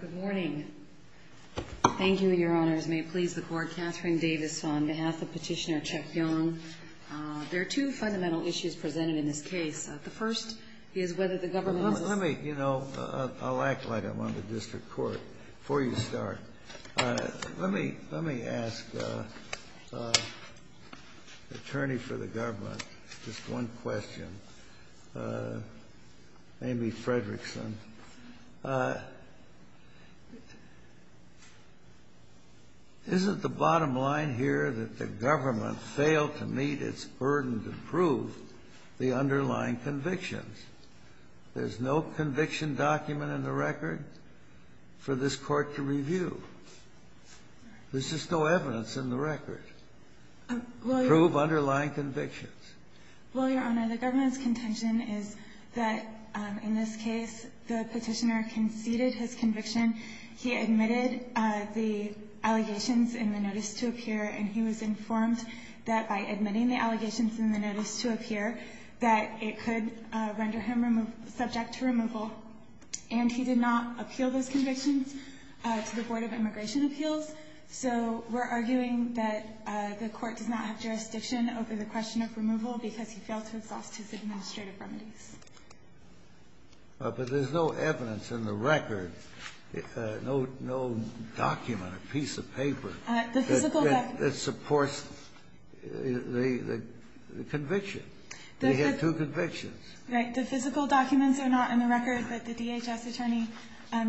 Good morning. Thank you, Your Honors. May it please the Court, Katherine Davis on behalf of Petitioner Chuck Yong. There are two fundamental issues presented in this case. The first is whether the government is- Let me, you know, I'll act like I'm on the district court before you start. Let me, let me ask the attorney for the government just one question, Amy Fredrickson. Isn't the bottom line here that the government failed to meet its burden to prove the underlying convictions? There's no conviction document in the record for this Court to review. There's just no evidence in the record to prove underlying convictions. Well, Your Honor, the government's contention is that, in this case, the Petitioner conceded his conviction. He admitted the allegations in the notice to appear, and he was informed that, by admitting the allegations in the notice to appear, that it could render him subject to removal. And he did not appeal those convictions to the Board of Immigration Appeals. So we're arguing that the Court does not have jurisdiction over the question of removal because he failed to exhaust his administrative remedies. But there's no evidence in the record, no document, a piece of paper- The physical- That supports the conviction. He had two convictions. Right. The physical documents are not in the record, but the DHS attorney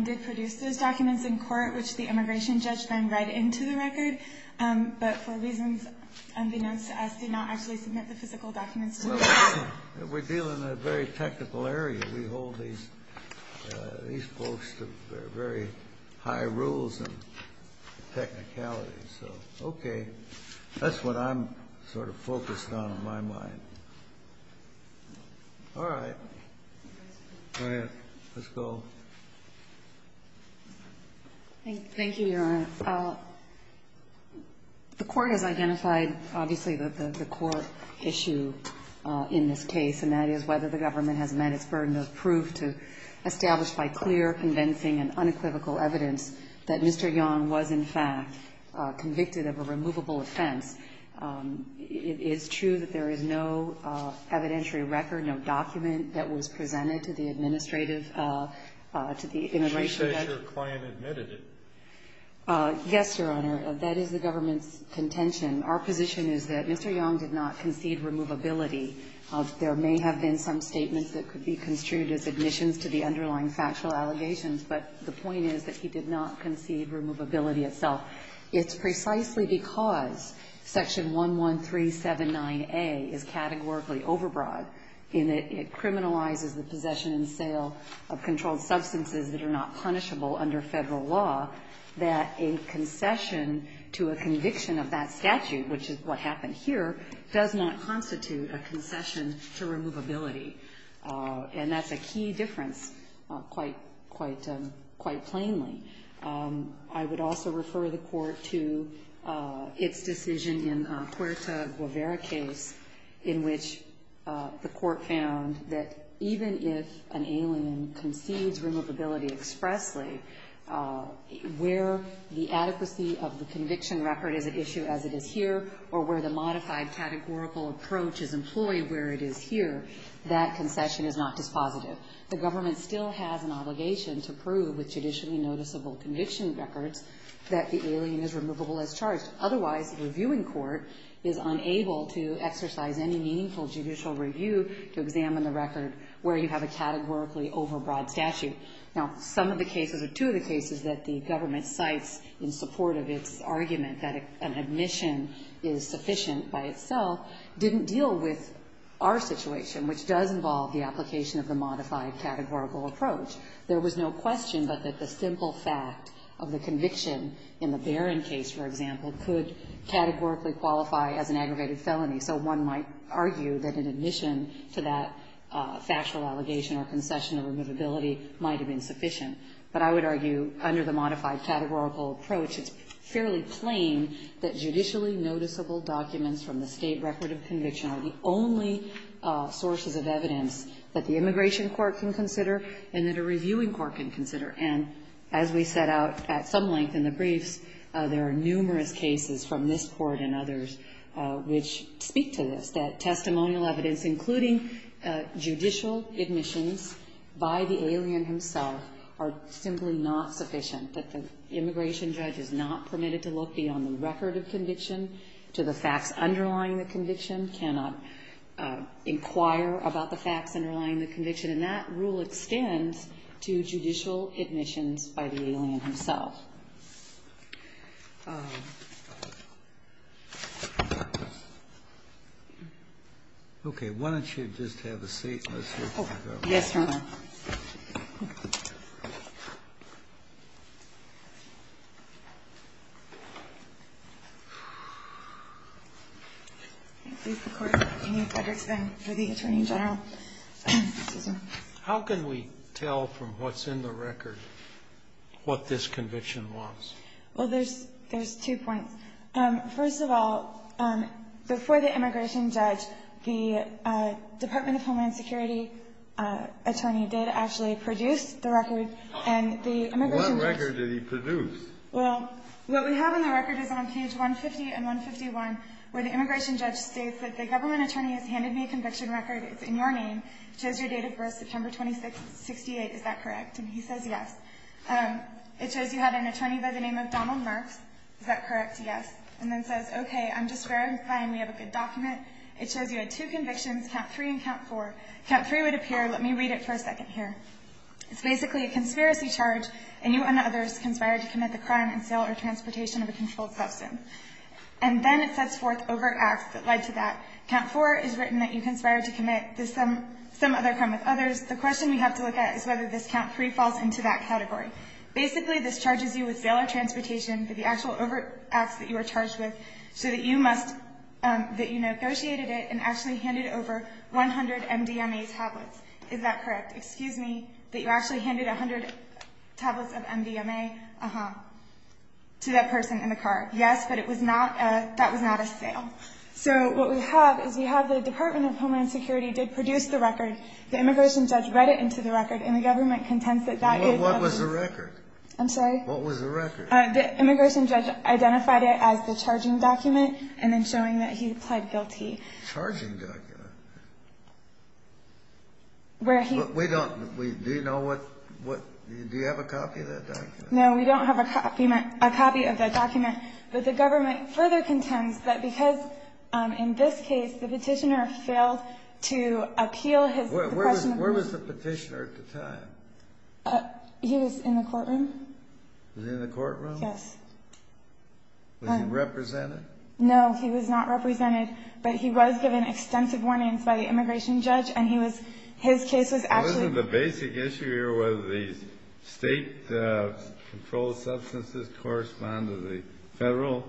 did produce those documents in court, which the immigration judge then read into the record, but for reasons unbeknownst to us, did not actually submit the physical documents to the board. Well, we're dealing in a very technical area. We hold these, these folks to very high rules and technicalities. So, okay. That's what I'm sort of focused on, in my mind. All right. Go ahead. Let's go. Thank you, Your Honor. The Court has identified, obviously, the core issue in this case, and that is whether the government has met its burden of proof to establish by clear, convincing, and unequivocal evidence that Mr. Yong was, in fact, convicted of a removable offense. It is true that there is no evidentiary record, no document that was presented to the administrative, to the immigration judge. Did you say that your client admitted it? Yes, Your Honor. That is the government's contention. Our position is that Mr. Yong did not concede removability. There may have been some statements that could be construed as admissions to the underlying factual allegations, but the point is that he did not concede removability itself. It's precisely because Section 11379A is categorically overbroad, in that it criminalizes the possession and sale of controlled substances that are not punishable under Federal law, that a concession to a conviction of that statute, which is what happened here, does not constitute a concession to removability. And that's a key difference, quite plainly. I would also refer the Court to its decision in Huerta Guevara's case, in which the Court found that even if an alien concedes removability expressly, where the adequacy of the conviction record is at issue as it is here, or where the adequacy of the conviction record is at issue as it is here, that concession is not dispositive. The government still has an obligation to prove with judicially noticeable conviction records that the alien is removable as charged. Otherwise, the reviewing court is unable to exercise any meaningful judicial review to examine the record where you have a categorically overbroad statute. Now, some of the cases or two of the cases that the government cites in support of its argument that an admission is sufficient by itself didn't deal with our situation, which does involve the application of the modified categorical approach. There was no question but that the simple fact of the conviction in the Barron case, for example, could categorically qualify as an aggravated felony. So one might argue that an admission to that factual allegation or concession of removability might have been sufficient. But I would argue, under the modified categorical approach, it's fairly plain that judicially noticeable documents from the state record of conviction are the only sources of evidence that the immigration court can consider and that a reviewing court can consider. And as we set out at some length in the briefs, there are numerous cases from this Court and others which speak to this, that testimonial evidence, including judicial admissions, is not sufficient by the alien himself, are simply not sufficient. That the immigration judge is not permitted to look beyond the record of conviction to the facts underlying the conviction, cannot inquire about the facts underlying the conviction, and that rule extends to judicial admissions by the alien himself. Okay. Why don't you just have a seat and let's hear from the government. Yes, Your Honor. How can we tell from what's in the record what this conviction is? Well, there's two points. First of all, before the immigration judge, the Department of Homeland Security attorney did actually produce the record, and the immigration judge What record did he produce? Well, what we have in the record is on page 150 and 151, where the immigration judge states that the government attorney has handed me a conviction record. It's in your name. It shows your date of birth, September 26, 1968. Is that correct? And he says yes. It shows you had an attorney by the name of Donald Marks. Is that correct? Yes. And then it says, okay, I'm just verifying we have a good document. It shows you had two convictions, count three and count four. Count three would appear. Let me read it for a second here. It's basically a conspiracy charge, and you and others conspired to commit the crime and sale or transportation of a controlled person. And then it sets forth overt acts that led to that. Count four is written that you conspired to commit this or some other crime with others. The question we have to look at is whether this count three falls into that category. Basically, this charges you with sale or transportation, but the actual overt acts that you were charged with so that you negotiated it and actually handed over 100 MDMA tablets. Is that correct? Excuse me. That you actually handed 100 tablets of MDMA to that person in the car. Yes, but that was not a sale. So what we have is we have the Department of Homeland Security did produce the record. The immigration judge read it into the record, and the government contends that that is the case. What was the record? I'm sorry? What was the record? The immigration judge identified it as the charging document and then showing that he pled guilty. Charging document? Where he We don't Do you know what Do you have a copy of that document? No, we don't have a copy of that document, but the government further contends that because, in this case, the petitioner failed to appeal his Where was the petitioner at the time? He was in the courtroom. He was in the courtroom? Yes. Was he represented? No, he was not represented, but he was given extensive warnings by the immigration judge, and his case was actually Wasn't the basic issue here whether the state-controlled substances correspond to the federal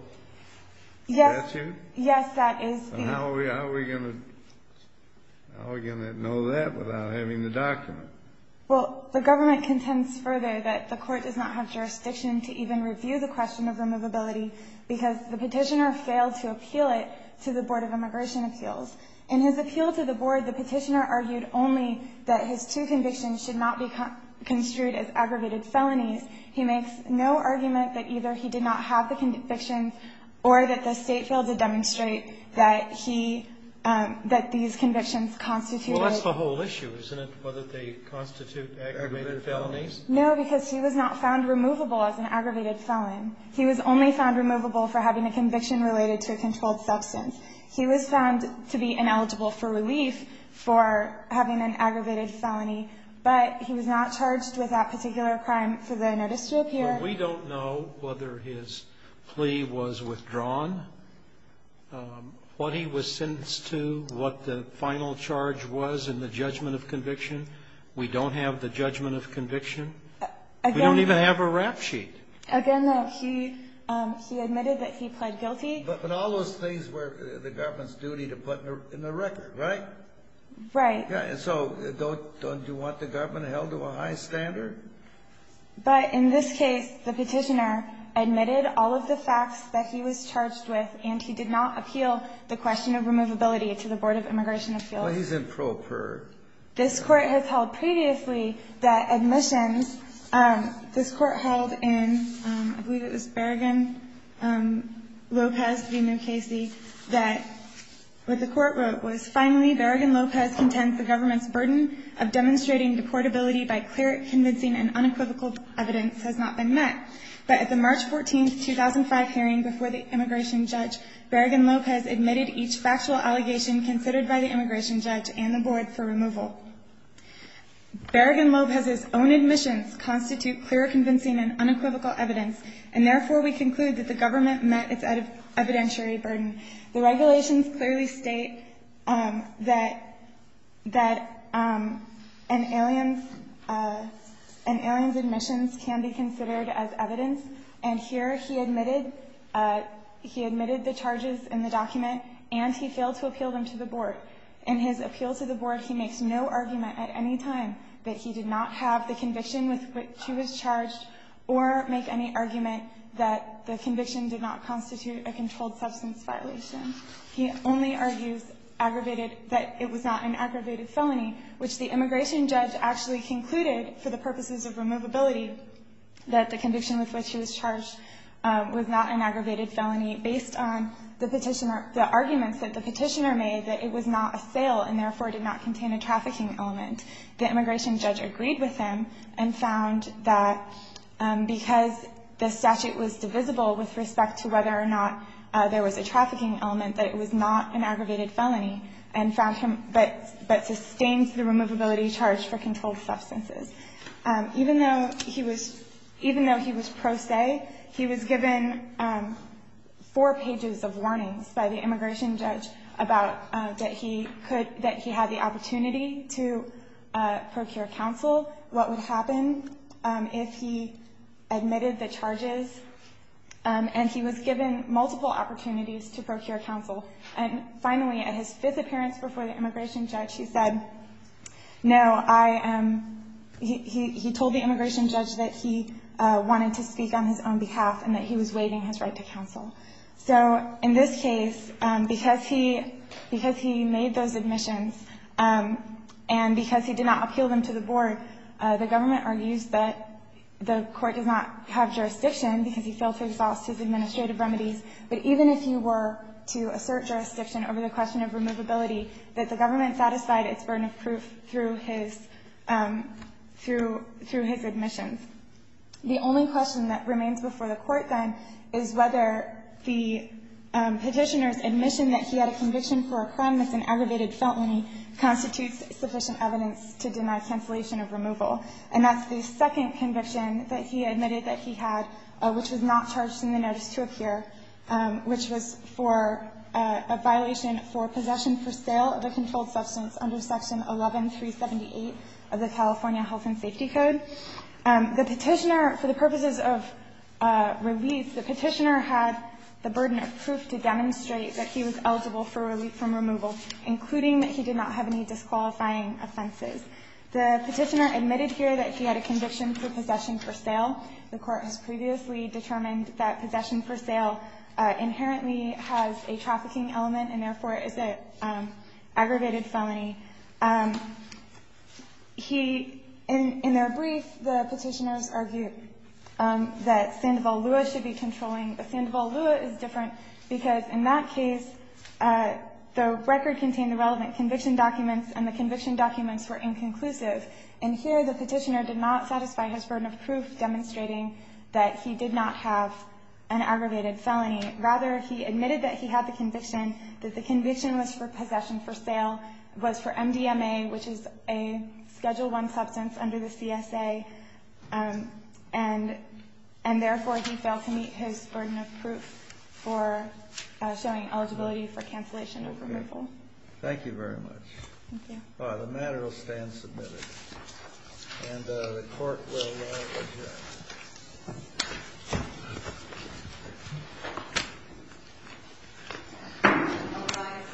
statute? Yes, that is the How are we going to know that without having the document? Well, the government contends further that the court does not have jurisdiction to even review the question of removability because the petitioner failed to appeal it to the Board of Immigration Appeals. In his appeal to the board, the petitioner argued only that his two convictions should not be construed as aggravated felonies. He makes no argument that either he did not have the convictions or that the state failed to demonstrate that these convictions constituted Well, that's the whole issue, isn't it, whether they constitute aggravated felonies? No, because he was not found removable as an aggravated felon. He was only found removable for having a conviction related to a controlled substance. He was found to be ineligible for relief for having an aggravated felony, but he was not charged with that particular crime for the notice to appear. Well, we don't know whether his plea was withdrawn, what he was sentenced to, what the final charge was in the judgment of conviction. We don't have the judgment of conviction. We don't even have a rap sheet. Again, he admitted that he pled guilty. But all those things were the government's duty to put in the record, right? Right. And so don't you want the government held to a high standard? But in this case, the petitioner admitted all of the facts that he was charged with, and he did not appeal the question of removability to the Board of Immigration Appeals. Well, he's in pro per. This Court has held previously that admissions, this Court held in, I believe it was Berrigan-Lopez v. New Casey, that what the Court wrote was, finally, Berrigan-Lopez contends the government's burden of demonstrating deportability by clear, convincing, and unequivocal evidence has not been met. But at the March 14, 2005 hearing before the immigration judge, Berrigan-Lopez admitted each factual allegation considered by the immigration judge and the Board for removal. Berrigan-Lopez's own admissions constitute clear, convincing, and unequivocal evidence, and therefore, we conclude that the government met its evidentiary burden. The regulations clearly state that an alien's admissions can be considered as evidence. And here, he admitted the charges in the document, and he failed to appeal them to the Board. In his appeal to the Board, he makes no argument at any time that he did not have the conviction with which he was charged or make any argument that the conviction did not constitute a controlled substance violation. He only argues aggravated, that it was not an aggravated felony, which the immigration judge actually concluded, for the purposes of removability, that the conviction with which he was charged was not an aggravated felony based on the petitioner, the arguments that the petitioner made that it was not a sale, and therefore, did not contain a trafficking element. The immigration judge agreed with him and found that because the statute was divisible with respect to whether or not there was a trafficking element, that it was not an aggravated felony, and found him but sustained the removability charge for controlled substances. Even though he was pro se, he was given four pages of warnings by the immigration judge about that he had the opportunity to procure counsel. What would happen if he admitted the charges? And he was given multiple opportunities to procure counsel. And finally, at his fifth appearance before the immigration judge, he said, no, he told the immigration judge that he wanted to speak on his own behalf and that he was waiving his right to counsel. So in this case, because he made those admissions and because he did not appeal them to the board, the government argues that the Court does not have jurisdiction because he failed to exhaust his administrative remedies. But even if he were to assert jurisdiction over the question of removability, that the government satisfied its burden of proof through his admissions. The only question that remains before the Court, then, is whether the petitioner's admission that he had a conviction for a crime that's an aggravated felony constitutes sufficient evidence to deny cancellation of removal. And that's the second conviction that he admitted that he had, which was not charged in the notice to appear, which was for a violation for possession for sale of a controlled substance under Section 11378 of the California Health and Safety Code. The petitioner, for the purposes of relief, the petitioner had the burden of proof to demonstrate that he was eligible for relief from removal, including that he did not have any disqualifying offenses. The petitioner admitted here that he had a conviction for possession for sale. The Court has previously determined that possession for sale inherently has a trafficking element and, therefore, is an aggravated felony. He, in their brief, the petitioners argued that Sandoval Lua should be controlling Sandoval Lua is different because, in that case, the record contained the relevant conviction documents, and the conviction documents were inconclusive. And here, the petitioner did not satisfy his burden of proof, demonstrating that he did not have an aggravated felony. Rather, he admitted that he had the conviction, that the conviction was for possession for sale, was for MDMA, which is a Schedule I substance under the CSA, and, therefore, he failed to meet his burden of proof for showing eligibility for cancellation of removal. Thank you very much. Thank you. The matter will stand submitted. And the Court will adjourn.